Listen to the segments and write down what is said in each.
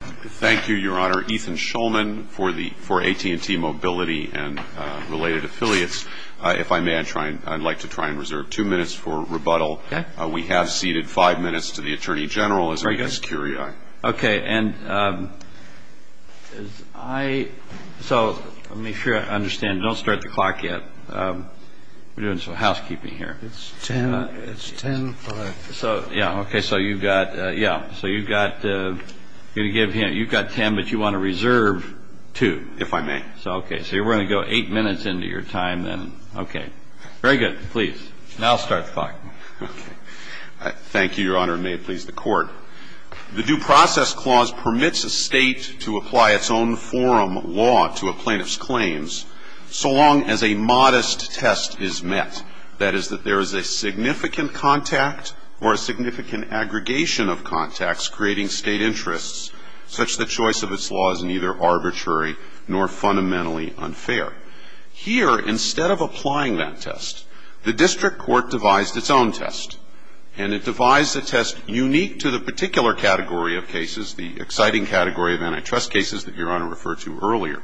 Thank you, Your Honor. Ethan Shulman for AT&T Mobility and related affiliates. If I may, I'd like to try and reserve two minutes for rebuttal. Okay. We have ceded five minutes to the Attorney General as a security eye. Okay, and as I... So, let me make sure I understand. Don't start the clock yet. We're doing some housekeeping here. It's ten-five. So, yeah, okay, so you've got... yeah, so you've got... I'm going to give him... you've got ten, but you want to reserve two. If I may. So, okay, so we're going to go eight minutes into your time then. Okay. Very good. Please. Now I'll start the clock. Thank you, Your Honor. May it please the Court. The Due Process Clause permits a state to apply its own forum law to a plaintiff's claims so long as a modest test is met. That is, that there is a significant contact or a significant aggregation of contacts creating state interests such that choice of its law is neither arbitrary nor fundamentally unfair. Here, instead of applying that test, the district court devised its own test, and it devised a test unique to the particular category of cases, the exciting category of antitrust cases that Your Honor referred to earlier,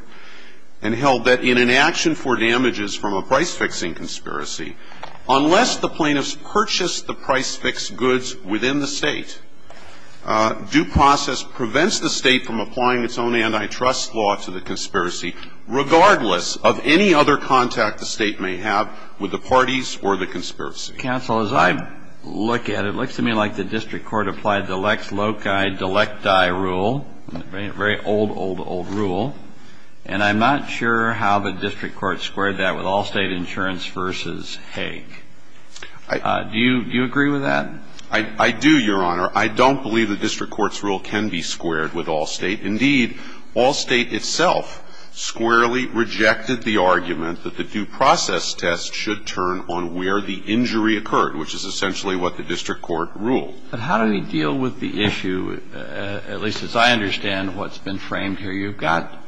and held that in an action for damages from a price-fixing conspiracy, unless the plaintiff's purchased the price-fixed goods within the state, due process prevents the state from applying its own antitrust law to the conspiracy, regardless of any other contact the state may have with the parties or the conspiracy. Counsel, as I look at it, it looks to me like the district court applied the Lex Loci Delecti Rule, the very old, old, old rule, and I'm not sure how the district court squared that with Allstate Insurance v. Hague. Do you agree with that? I do, Your Honor. I don't believe the district court's rule can be squared with Allstate. Indeed, Allstate itself squarely rejected the argument that the due process test should turn on where the injury occurred, which is essentially what the district court ruled. But how do we deal with the issue, at least as I understand what's been framed here? You've got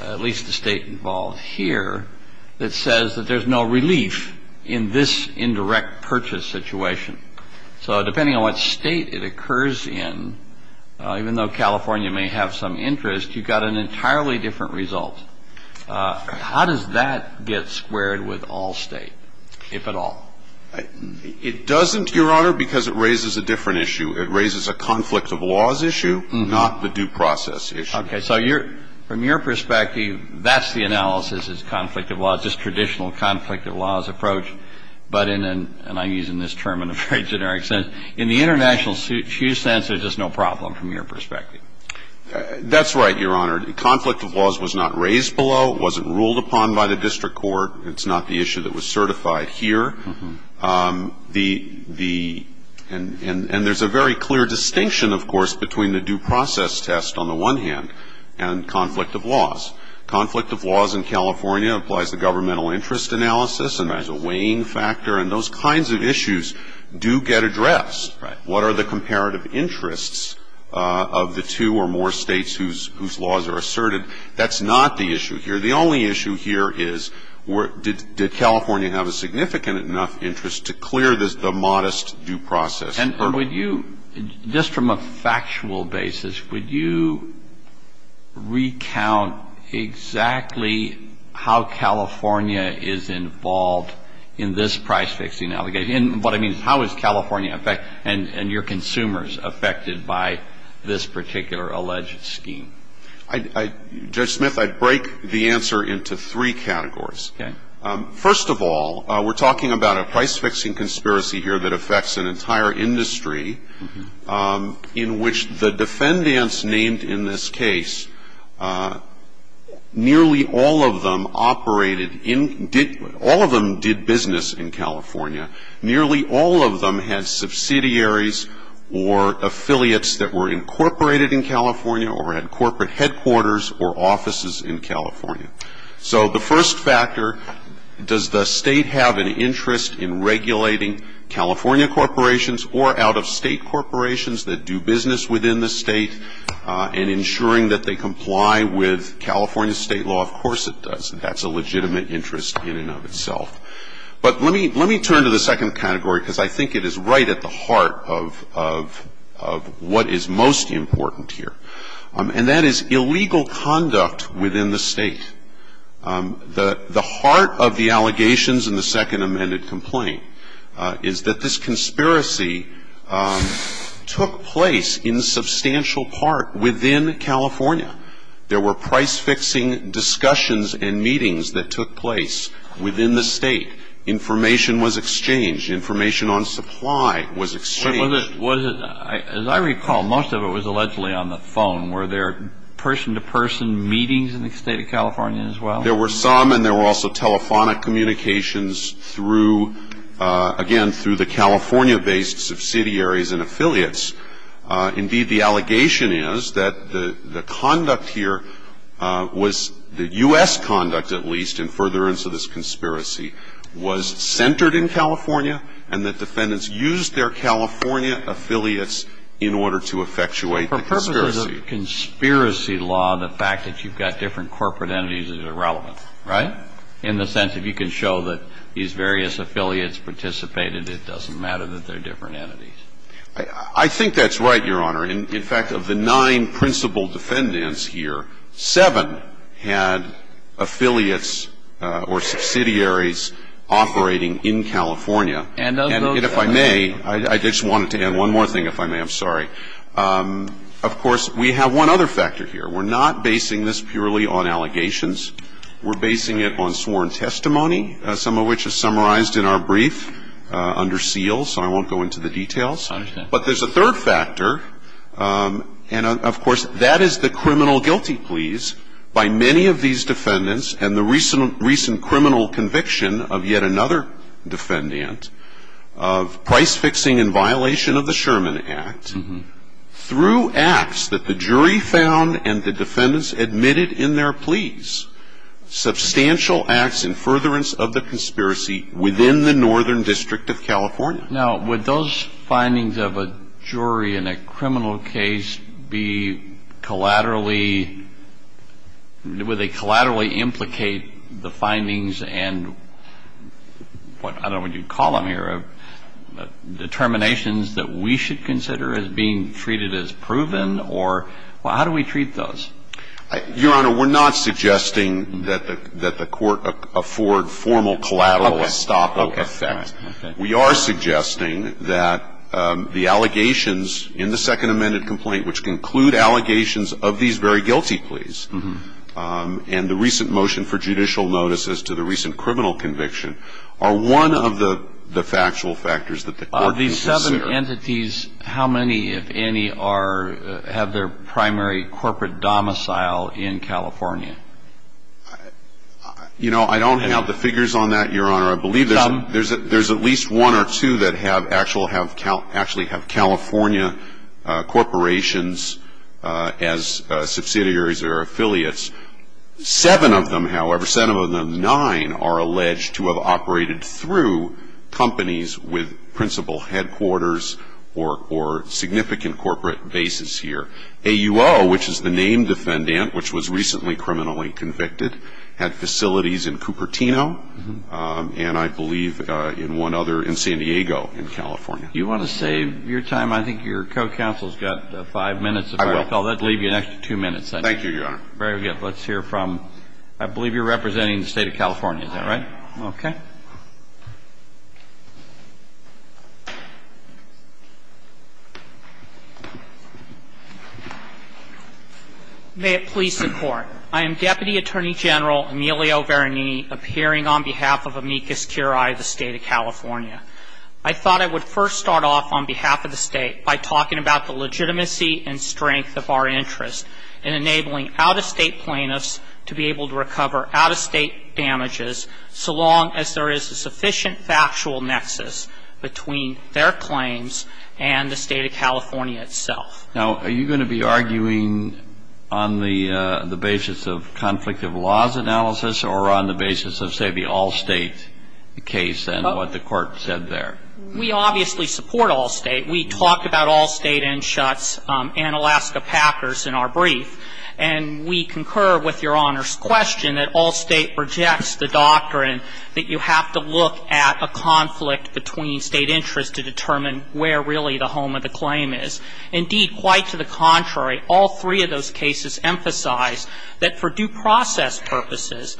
at least the State involved here that says that there's no relief in this indirect purchase situation. So depending on what State it occurs in, even though California may have some interest, you've got an entirely different result. How does that get squared with Allstate, if at all? It doesn't, Your Honor, because it raises a different issue. It raises a conflict of laws issue, not the due process issue. Okay. So from your perspective, that's the analysis is conflict of laws, this traditional conflict of laws approach. But in an, and I'm using this term in a very generic sense, in the international shoe sense, there's just no problem from your perspective. That's right, Your Honor. The conflict of laws was not raised below. It wasn't ruled upon by the district court. It's not the issue that was certified here. The, and there's a very clear distinction, of course, between the due process test, on the one hand, and conflict of laws. Conflict of laws in California applies the governmental interest analysis, and there's a weighing factor, and those kinds of issues do get addressed. What are the comparative interests of the two or more States whose laws are asserted? That's not the issue here. The only issue here is did California have a significant enough interest to clear the modest due process hurdle? And would you, just from a factual basis, would you recount exactly how California is involved in this price-fixing allegation? And what I mean is how is California, and your consumers, affected by this particular alleged scheme? I, Judge Smith, I'd break the answer into three categories. Okay. First of all, we're talking about a price-fixing conspiracy here that affects an entire industry in which the defendants named in this case, nearly all of them operated in, did, all of them did business in California. Nearly all of them had subsidiaries or affiliates that were incorporated in California or had corporate headquarters or offices in California. So the first factor, does the State have an interest in regulating California corporations or out-of-state corporations that do business within the State and ensuring that they comply with California State law? Of course it does. That's a legitimate interest in and of itself. But let me turn to the second category because I think it is right at the heart of what is most important here. And that is illegal conduct within the State. The heart of the allegations in the second amended complaint is that this conspiracy took place in substantial part within California. There were price-fixing discussions and meetings that took place within the State. Information was exchanged. Information on supply was exchanged. As I recall, most of it was allegedly on the phone. Were there person-to-person meetings in the State of California as well? There were some and there were also telephonic communications through, again, through the California-based subsidiaries and affiliates. Indeed, the allegation is that the conduct here was, the U.S. conduct at least, in furtherance of this conspiracy, was centered in California and that defendants used their California affiliates in order to effectuate the conspiracy. For purposes of conspiracy law, the fact that you've got different corporate entities is irrelevant, right? In the sense, if you can show that these various affiliates participated, it doesn't matter that they're different entities. I think that's right, Your Honor. In fact, of the nine principal defendants here, seven had affiliates or subsidiaries operating in California. And if I may, I just wanted to add one more thing, if I may. I'm sorry. Of course, we have one other factor here. We're not basing this purely on allegations. We're basing it on sworn testimony, some of which is summarized in our brief under seal, so I won't go into the details. But there's a third factor, and of course, that is the criminal guilty pleas by many of these defendants and the recent criminal conviction of yet another defendant of price fixing in violation of the Sherman Act through acts that the jury found and the defendants admitted in their pleas, substantial acts in furtherance of the conspiracy within the Northern District of California. Now, would those findings of a jury in a criminal case be collaterally implicate the findings and what, I don't know what you'd call them here, determinations that we should consider as being treated as proven, or how do we treat those? Your Honor, we're not suggesting that the Court afford formal collateral estoppel effect. We are suggesting that the allegations in the Second Amended Complaint which conclude allegations of these very guilty pleas and the recent motion for judicial notice as to the recent criminal conviction are one of the factual factors that the Court needs to consider. Of these seven entities, how many, if any, have their primary corporate domicile in California? You know, I don't have the figures on that, Your Honor. I believe there's at least one or two that actually have California corporations as subsidiaries or affiliates. Seven of them, however, seven of them, nine are alleged to have operated through companies with principal headquarters or significant corporate bases here. AUO, which is the named defendant which was recently criminally convicted, had facilities in Cupertino and I believe in one other in San Diego in California. You want to save your time? I think your co-counsel's got five minutes, if I recall. I will. That will leave you an extra two minutes, then. Thank you, Your Honor. Very good. Let's hear from, I believe you're representing the State of California, is that right? Okay. May it please the Court. I am Deputy Attorney General Emilio Veronini, appearing on behalf of Amicus Curiae, the State of California. I thought I would first start off on behalf of the State by talking about the legitimacy and strength of our interest in enabling out-of-State plaintiffs to be able to recover out-of-State damages so long as there is a sufficient factual nexus between their claims and the State of California itself. Now, are you going to be arguing on the basis of conflict of laws analysis or on the basis of, say, the all-State case and what the Court said there? We obviously support all-State. We talked about all-State inshuts and Alaska Packers in our brief, and we concur with Your Honor's question that all-State rejects the doctrine that you have to look at a conflict between State interests to determine where really the home of the claim is. Indeed, quite to the contrary, all three of those cases emphasize that for due process purposes,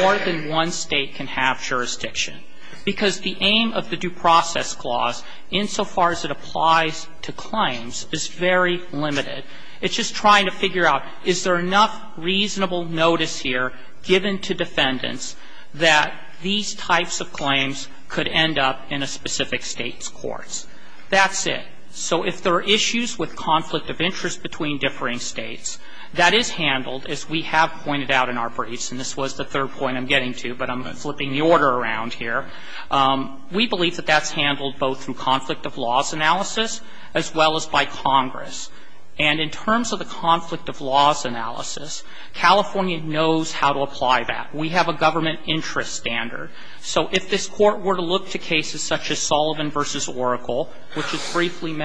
more than one State can have jurisdiction, because the aim of the due process clause, insofar as it applies to claims, is very limited. It's just trying to figure out is there enough reasonable notice here given to defendants that these types of claims could end up in a specific State's courts. That's it. So if there are issues with conflict of interest between differing States, that is handled, as we have pointed out in our briefs, and this was the third point I'm getting to, but I'm flipping the order around here. We believe that that's handled both through conflict of laws analysis as well as by Congress. And in terms of the conflict of laws analysis, California knows how to apply that. We have a government interest standard. So if this Court were to look to cases such as Sullivan v. Oracle, which is briefly the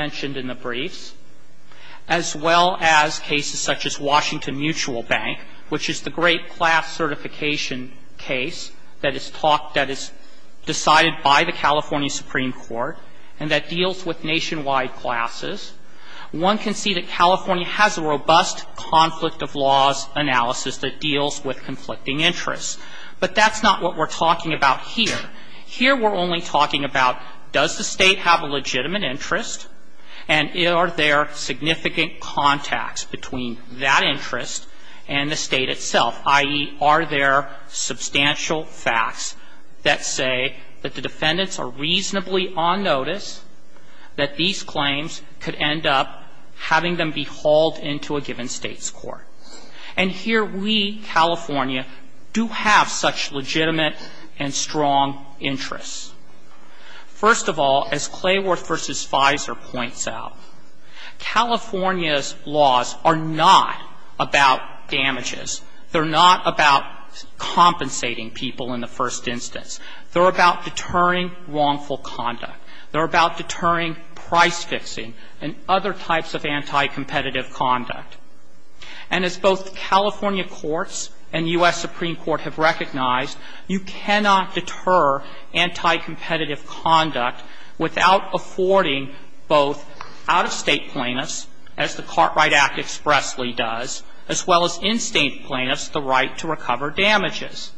great class certification case that is decided by the California Supreme Court and that deals with nationwide classes, one can see that California has a robust conflict of laws analysis that deals with conflicting interests. But that's not what we're talking about here. Here we're only talking about does the State have a legitimate interest and are there significant contacts between that interest and the State itself, i.e., are there substantial facts that say that the defendants are reasonably on notice that these claims could end up having them be hauled into a given State's court. And here we, California, do have such legitimate and strong interests. First of all, as Clayworth v. Fizer points out, California's laws are not about damages. They're not about compensating people in the first instance. They're about deterring wrongful conduct. They're about deterring price fixing and other types of anti-competitive conduct. And as both California courts and U.S. Supreme Court have recognized, you cannot deter anti-competitive conduct without affording both out-of-State plaintiffs, as the Cartwright Act expressly does, as well as in-State plaintiffs the right to recover damages.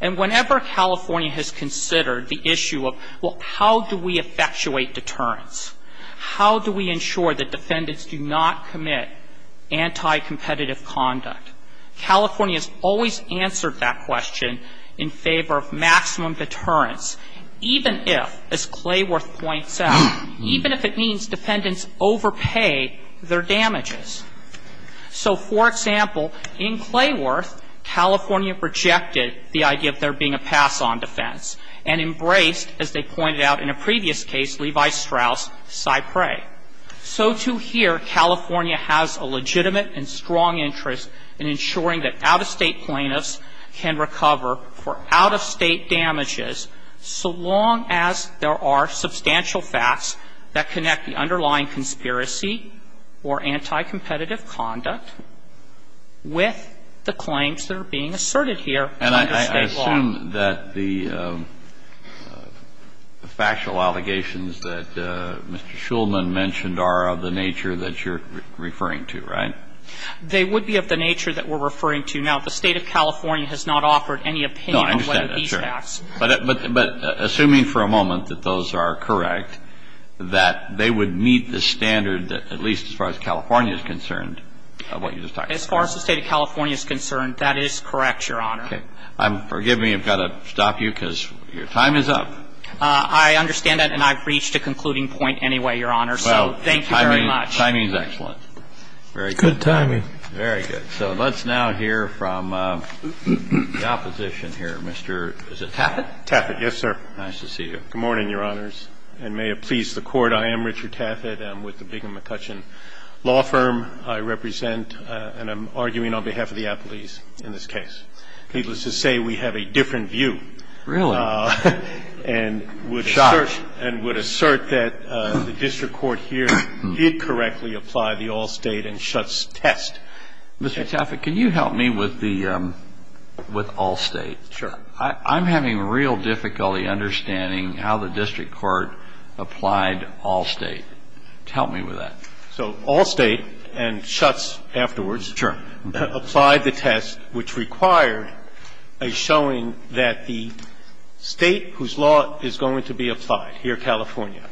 And whenever California has considered the issue of, well, how do we effectuate deterrence? How do we ensure that defendants do not commit anti-competitive conduct? California has always answered that question in favor of maximum deterrence, even if, as Clayworth points out, even if it means defendants overpay their damages. So, for example, in Clayworth, California rejected the idea of there being a pass-on defense and embraced, as they pointed out in a previous case, Levi Strauss' Cypre. So, to here, California has a legitimate and strong interest in ensuring that out-of-State plaintiffs can recover for out-of-State damages, so long as there are substantial facts that connect the underlying conspiracy or anti-competitive conduct with the claims that are being asserted here under State law. Kennedy, I assume that the factual allegations that Mr. Shulman mentioned are of the nature that you're referring to, right? They would be of the nature that we're referring to. Now, the State of California has not offered any opinion on whether these facts No, I understand that, sir. But assuming for a moment that those are correct, that they would meet the standard that, at least as far as California is concerned, of what you just talked about. As far as the State of California is concerned, that is correct, Your Honor. Okay. Forgive me, I've got to stop you, because your time is up. I understand that, and I've reached a concluding point anyway, Your Honor. So thank you very much. Well, timing is excellent. Good timing. Very good. So let's now hear from the opposition here, Mr. Taffet. Taffet, yes, sir. Nice to see you. Good morning, Your Honors, and may it please the Court, I am Richard Taffet. I'm with the Bingham McCutcheon Law Firm. I represent, and I'm arguing on behalf of the appellees in this case. Needless to say, we have a different view. Really? And would assert that the district court here did correctly apply the all-state and shuts test. Mr. Taffet, can you help me with all-state? Sure. I'm having real difficulty understanding how the district court applied all-state. Help me with that. So all-state and shuts afterwards. Sure. Applied the test, which required a showing that the state whose law is going to be applied, here, California,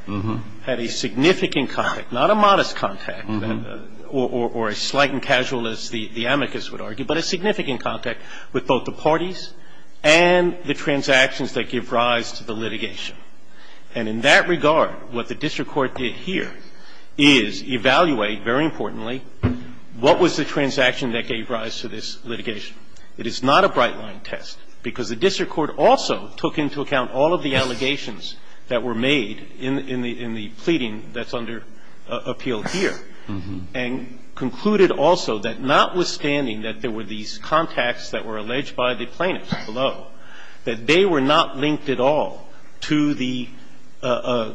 had a significant contact, not a modest contact, or as slight and casual as the amicus would argue, but a significant contact with both the parties and the transactions that give rise to the litigation. And in that regard, what the district court did here is evaluate, very importantly, what was the transaction that gave rise to this litigation. It is not a bright-line test, because the district court also took into account all of the allegations that were made in the pleading that's under appeal here, and concluded also that notwithstanding that there were these contacts that were alleged by the plaintiffs below, that they were not linked at all to the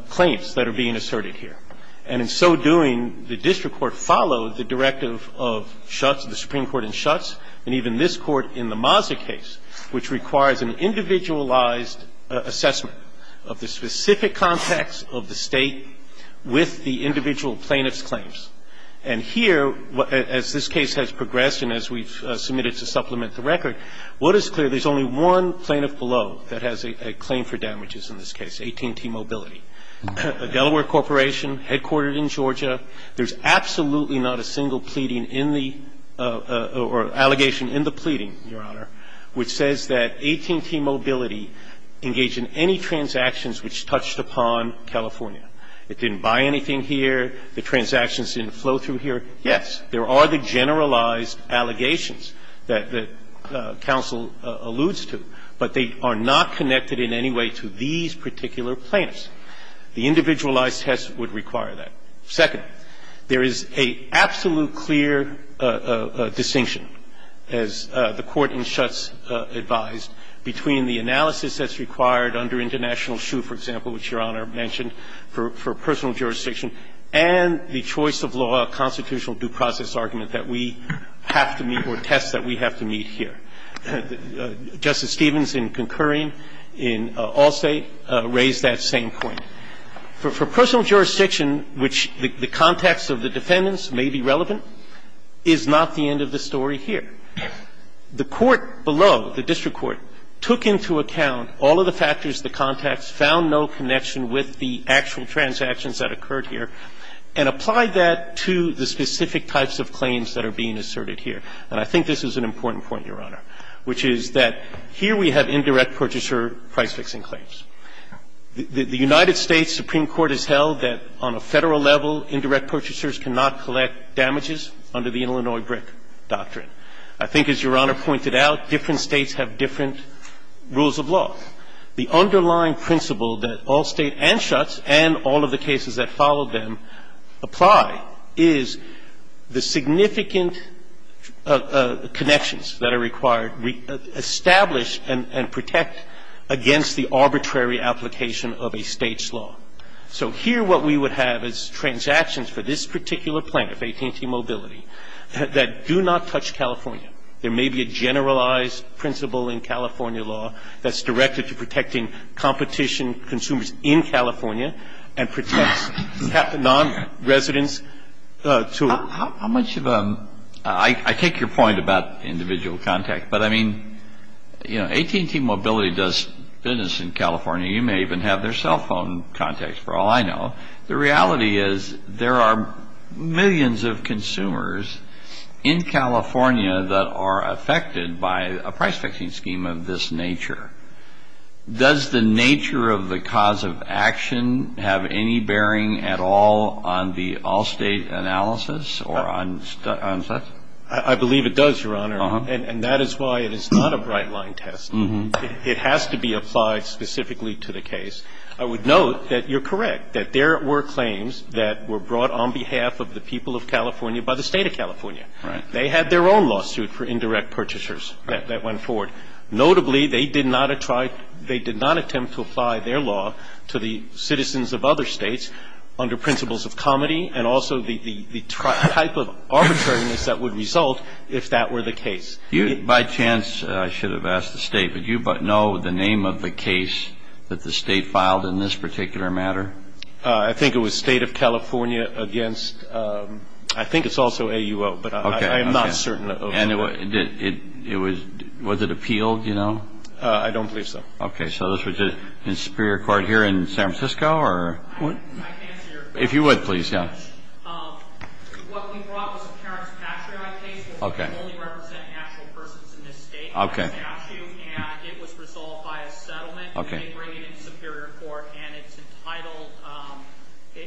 claims that are being asserted here. And in so doing, the district court followed the directive of shuts, the Supreme Court in shuts, and even this Court in the Mazza case, which requires an individualized assessment of the specific contacts of the state with the individual plaintiff's claims. And here, as this case has progressed and as we've submitted to supplement the record, what is clear, there's only one plaintiff below that has a claim for damages in this case, 18T Mobility. A Delaware corporation, headquartered in Georgia. There's absolutely not a single pleading in the or allegation in the pleading, Your Honor, which says that 18T Mobility engaged in any transactions which touched upon California. It didn't buy anything here. The transactions didn't flow through here. Yes, there are the generalized allegations that counsel alludes to, but they are not connected in any way to these particular plaintiffs. The individualized test would require that. Second, there is a absolute clear distinction, as the Court in shuts advised, between the analysis that's required under international shoe, for example, which Your Honor mentioned, for personal jurisdiction, and the choice of law constitutional due process argument that we have to meet or test that we have to meet here. Justice Stevens, in concurring in Allstate, raised that same point. For personal jurisdiction, which the context of the defendants may be relevant, is not the end of the story here. The court below, the district court, took into account all of the factors, the context, found no connection with the actual transactions that occurred here, and applied that to the specific types of claims that are being asserted here. And I think this is an important point, Your Honor, which is that here we have indirect purchaser price-fixing claims. The United States Supreme Court has held that on a Federal level, indirect purchasers cannot collect damages under the Illinois brick doctrine. I think, as Your Honor pointed out, different States have different rules of law. The underlying principle that Allstate and shuts and all of the cases that follow them apply is the significant connections that are required, establish and protect against the arbitrary application of a State's law. So here what we would have is transactions for this particular plaintiff, AT&T Mobility, that do not touch California. There may be a generalized principle in California law that's directed to protecting competition, consumers in California, and protects non-residents to a How much of a, I take your point about individual contact, but I mean, you know, AT&T Mobility does business in California. You may even have their cell phone contacts, for all I know. The reality is there are millions of consumers in California that are affected by a price-fixing scheme of this nature. Does the nature of the cause of action have any bearing at all on the Allstate analysis or on such? I believe it does, Your Honor, and that is why it is not a bright-line test. It has to be applied specifically to the case. I would note that you're correct, that there were claims that were brought on behalf of the people of California by the State of California. They had their own lawsuit for indirect purchasers that went forward. Notably, they did not try, they did not attempt to apply their law to the citizens of other States under principles of comity and also the type of arbitrariness that would result if that were the case. By chance, I should have asked the State, but do you know the name of the case that the State filed in this particular matter? I think it was State of California against, I think it's also AUO, but I am not certain of that. And it was, was it appealed, you know? I don't believe so. Okay, so this was in Superior Court here in San Francisco, or what? I can answer your question. If you would, please, yeah. What we brought was a parents' patchery-like case where we only represent actual persons in this State by statute, and it was resolved by a settlement. We didn't bring it into Superior Court, and it's entitled,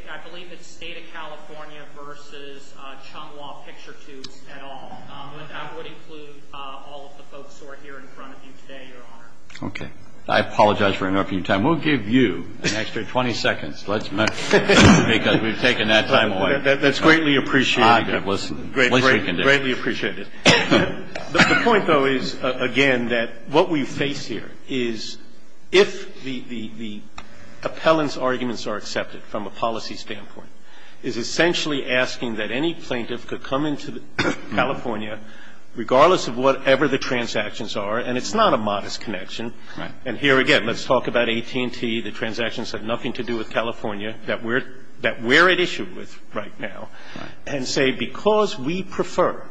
I believe it's State of California versus Chung Wah Picture Tubes at all, but that would include all of the folks who are here in front of you today, Your Honor. Okay. I apologize for interrupting your time. We'll give you an extra 20 seconds, because we've taken that time away. That's greatly appreciated. Greatly appreciated. The point, though, is, again, that what we face here is if the appellant's from a policy standpoint, is essentially asking that any plaintiff could come into California, regardless of whatever the transactions are, and it's not a modest connection. And here again, let's talk about AT&T, the transactions have nothing to do with California, that we're at issue with right now, and say, because we prefer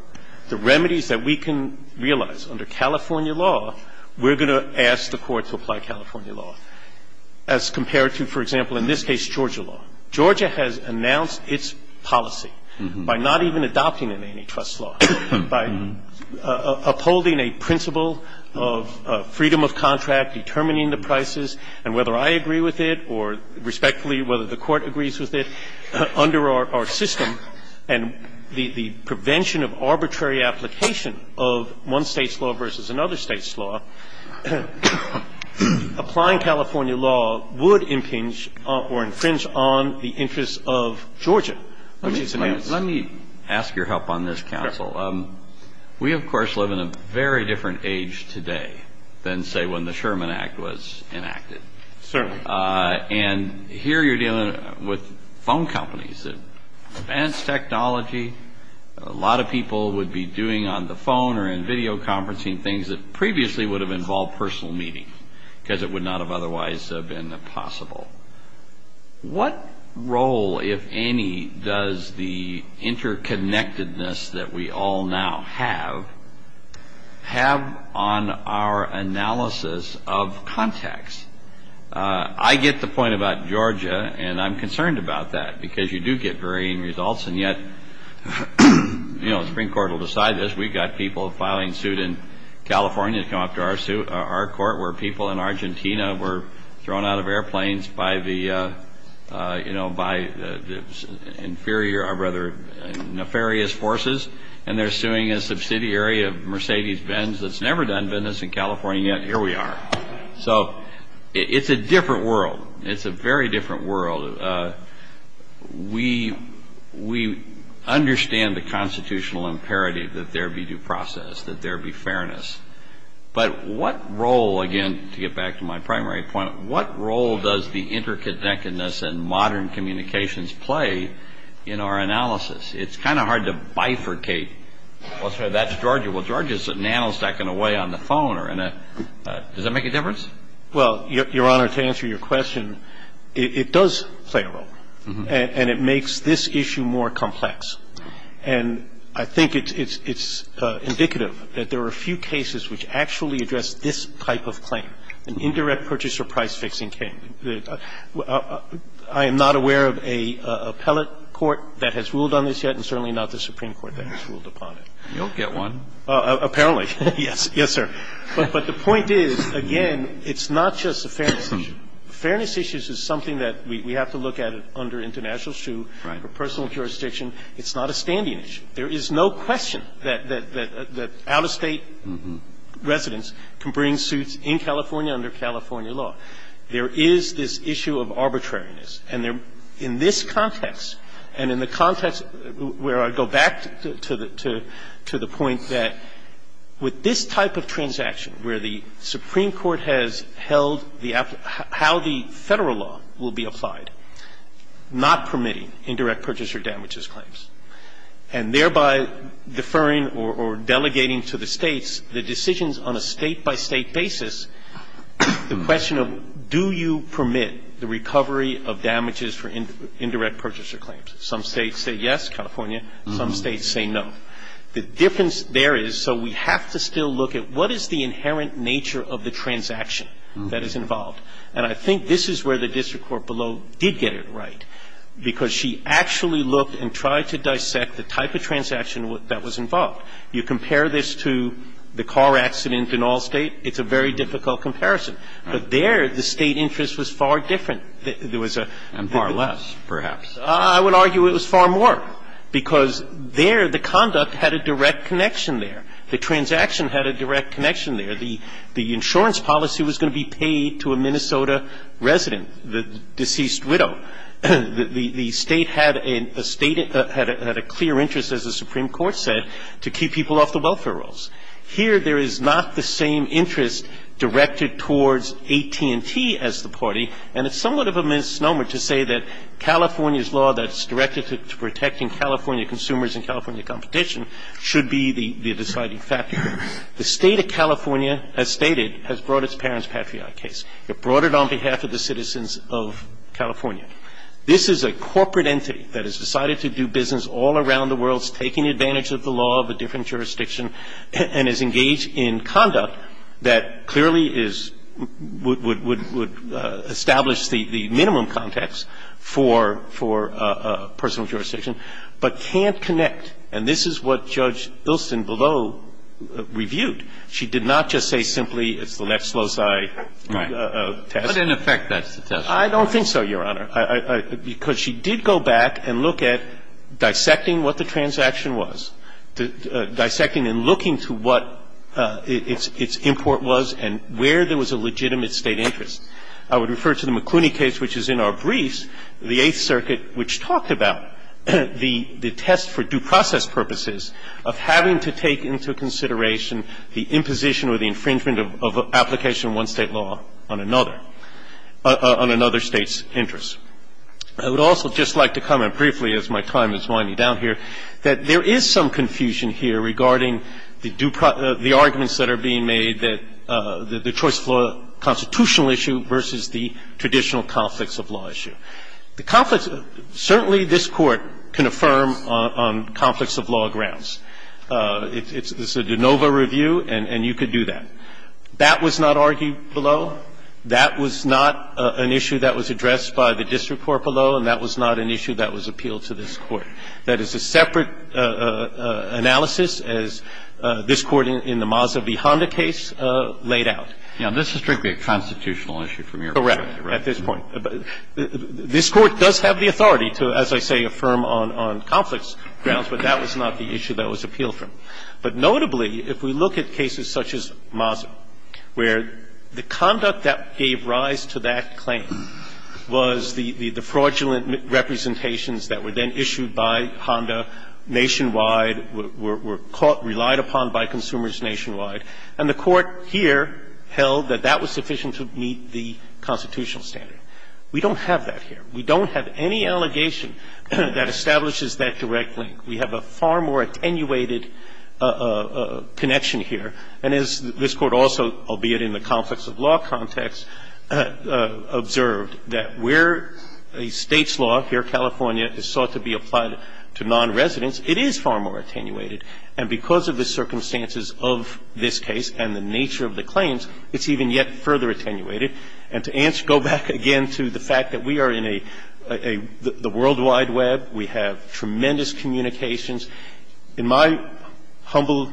the remedies that we can realize under California law, we're going to ask the Court to apply California law. As compared to, for example, in this case, Georgia law. Georgia has announced its policy by not even adopting an antitrust law, by upholding a principle of freedom of contract, determining the prices, and whether I agree with it or respectfully whether the Court agrees with it, under our system, and the prevention of arbitrary application of one State's law versus another State's law, applying California law would impinge or infringe on the interests of Georgia. Let me ask your help on this, counsel. We, of course, live in a very different age today than, say, when the Sherman Act was enacted. Certainly. And here you're dealing with phone companies, advanced technology. A lot of people would be doing on the phone or in video conferencing things that previously would have involved personal meetings, because it would not have otherwise been possible. What role, if any, does the interconnectedness that we all now have, have on our analysis of contacts? I get the point about Georgia, and I'm concerned about that, because you do get varying results, and yet, you know, the Supreme Court will decide this. We've got people filing suit in California to come up to our court, where people in Argentina were thrown out of airplanes by the, you know, by the inferior or rather nefarious forces, and they're suing a subsidiary of Mercedes-Benz that's never done business in California, and yet, here we are. So, it's a different world. It's a very different world. We understand the constitutional imperative that there be due process, that there be fairness. But what role, again, to get back to my primary point, what role does the interconnectedness and modern communications play in our analysis? It's kind of hard to bifurcate, well, sorry, that's Georgia. Well, Georgia's a nanostack and away on the phone, or in a — does that make a difference? Well, Your Honor, to answer your question, it does play a role, and it makes this issue more complex. And I think it's indicative that there are a few cases which actually address this type of claim, an indirect purchaser price-fixing claim. I am not aware of a appellate court that has ruled on this yet, and certainly not the Supreme Court that has ruled upon it. You'll get one. Apparently, yes, yes, sir. But the point is, again, it's not just a fairness issue. Fairness issues is something that we have to look at under international shoe or personal jurisdiction. It's not a standing issue. There is no question that out-of-state residents can bring suits in California under California law. There is this issue of arbitrariness. And in this context, and in the context where I go back to the point that with this type of transaction where the Supreme Court has held how the Federal law will be applied, not permitting indirect purchaser damages claims, and thereby deferring or delegating to the States the decisions on a State-by-State basis, the question of do you permit the recovery of damages for indirect purchaser claims. Some States say yes, California. Some States say no. The difference there is, so we have to still look at what is the inherent nature of the transaction that is involved. And I think this is where the district court below did get it right, because she actually looked and tried to dissect the type of transaction that was involved. You compare this to the car accident in Allstate, it's a very difficult comparison. But there, the State interest was far different. There was a bit of a difference. And far less, perhaps. I would argue it was far more, because there, the conduct had a direct connection there. The transaction had a direct connection there. The insurance policy was going to be paid to a Minnesota resident, the deceased widow. The State had a clear interest, as the Supreme Court said, to keep people off the welfare rolls. Here, there is not the same interest directed towards AT&T as the party, and it's And I think that the Supreme Court's law that's directed to protecting California consumers and California competition should be the deciding factor. The State of California, as stated, has brought its parents' patriot case. It brought it on behalf of the citizens of California. This is a corporate entity that has decided to do business all around the world, it's taking advantage of the law of a different jurisdiction, and is engaged in conduct that clearly is – would establish the minimum context for personal jurisdiction, but can't connect. And this is what Judge Ilsen below reviewed. She did not just say simply it's the next loci test. Right. But in effect, that's the test. I don't think so, Your Honor. I think that the Supreme Court's action was dissecting and looking to what its import was and where there was a legitimate State interest. I would refer to the McCluney case, which is in our briefs, the Eighth Circuit, which talked about the test for due process purposes of having to take into consideration the imposition or the infringement of application of one State law on another, on another State's interest. I would also just like to comment briefly, as my time is winding down here, that there is some confusion here regarding the arguments that are being made that the choice of constitutional issue versus the traditional conflicts of law issue. The conflicts – certainly this Court can affirm on conflicts of law grounds. It's a de novo review, and you could do that. That was not argued below. That was not an issue that was addressed by the district court below, and that was not an issue that was appealed to this Court. That is a separate analysis, as this Court in the Maza v. Honda case laid out. Now, this is strictly a constitutional issue from your point of view, right? Correct, at this point. This Court does have the authority to, as I say, affirm on conflicts grounds, but that was not the issue that was appealed from. But notably, if we look at cases such as Maza, where the conduct that gave rise to that claim was the fraudulent representations that were then issued by Honda nationwide, were caught, relied upon by consumers nationwide, and the Court here held that that was sufficient to meet the constitutional standard. We don't have that here. We don't have any allegation that establishes that direct link. We have a far more attenuated connection here. And as this Court also, albeit in the conflicts of law context, observed, that where a State's law here, California, is sought to be applied to nonresidents, it is far more attenuated. And because of the circumstances of this case and the nature of the claims, it's even yet further attenuated. And to answer, go back again to the fact that we are in a – the World Wide Web. We have tremendous communications. In my humble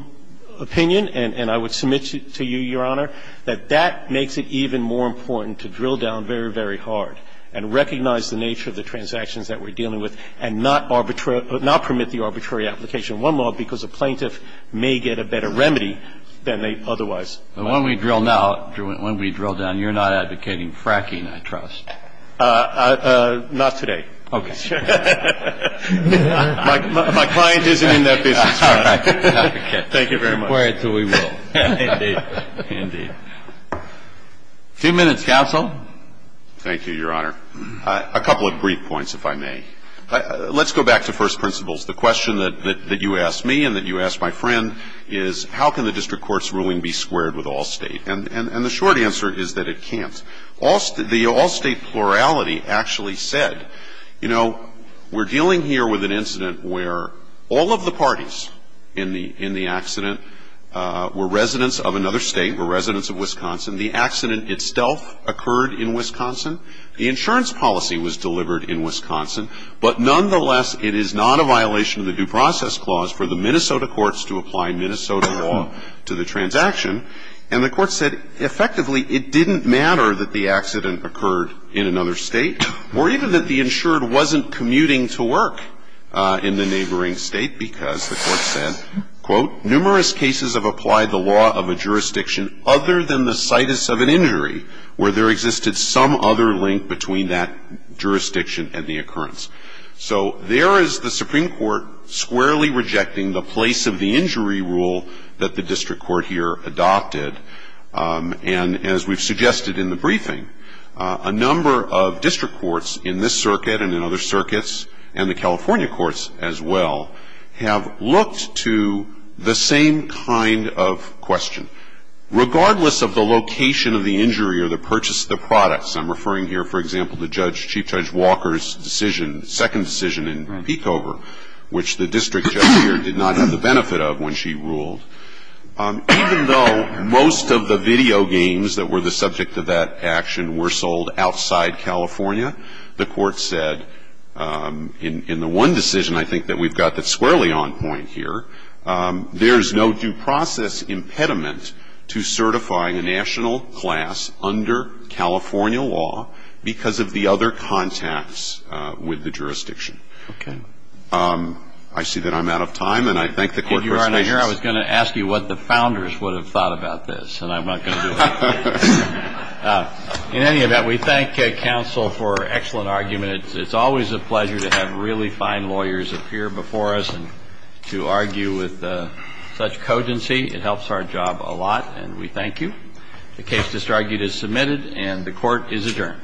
opinion, and I would submit to you, Your Honor, that that makes it even more important to drill down very, very hard and recognize the nature of the transactions that we're dealing with and not permit the arbitrary application of one law because a plaintiff may get a better remedy than they otherwise might. Kennedy. But when we drill now, when we drill down, you're not advocating fracking, I trust. Not today. Okay. My client isn't in that business, Your Honor. Thank you very much. We'll wait until we will. Indeed. Indeed. Two minutes, counsel. Thank you, Your Honor. A couple of brief points, if I may. Let's go back to first principles. The question that you asked me and that you asked my friend is, how can the district court's ruling be squared with all State? And the short answer is that it can't. The all State plurality actually said, you know, we're dealing here with an incident where all of the parties in the accident were residents of another State, were residents of Wisconsin. The accident itself occurred in Wisconsin. The insurance policy was delivered in Wisconsin. But nonetheless, it is not a violation of the due process clause for the Minnesota courts to apply Minnesota law to the transaction. And the court said, effectively, it didn't matter that the accident occurred in another State, or even that the insured wasn't commuting to work in the neighboring State, because the court said, quote, numerous cases have applied the law of a jurisdiction other than the situs of an injury where there existed some other link between that jurisdiction and the occurrence. So there is the Supreme Court squarely rejecting the place of the injury rule that the district court here adopted. And as we've suggested in the briefing, a number of district courts in this circuit and in other circuits, and the California courts as well, have looked to the same kind of question. Regardless of the location of the injury or the purchase of the products, I'm referring here, for example, to Judge, Chief Judge Walker's decision, second decision in Peekover, which the district judge here did not have the benefit of when she ruled. Even though most of the video games that were the subject of that action were sold outside California, the court said, in the one decision, I think, that we've got that squarely on point here, there is no due process impediment to certifying a national class under California law because of the other contacts with the jurisdiction. Okay. I see that I'm out of time, and I thank the court for its patience. If you are not here, I was going to ask you what the founders would have thought about this, and I'm not going to do it. In any event, we thank counsel for an excellent argument. It's always a pleasure to have really fine lawyers appear before us and to argue with such cogency. It helps our job a lot, and we thank you. The case disargued is submitted, and the court is adjourned. All rise.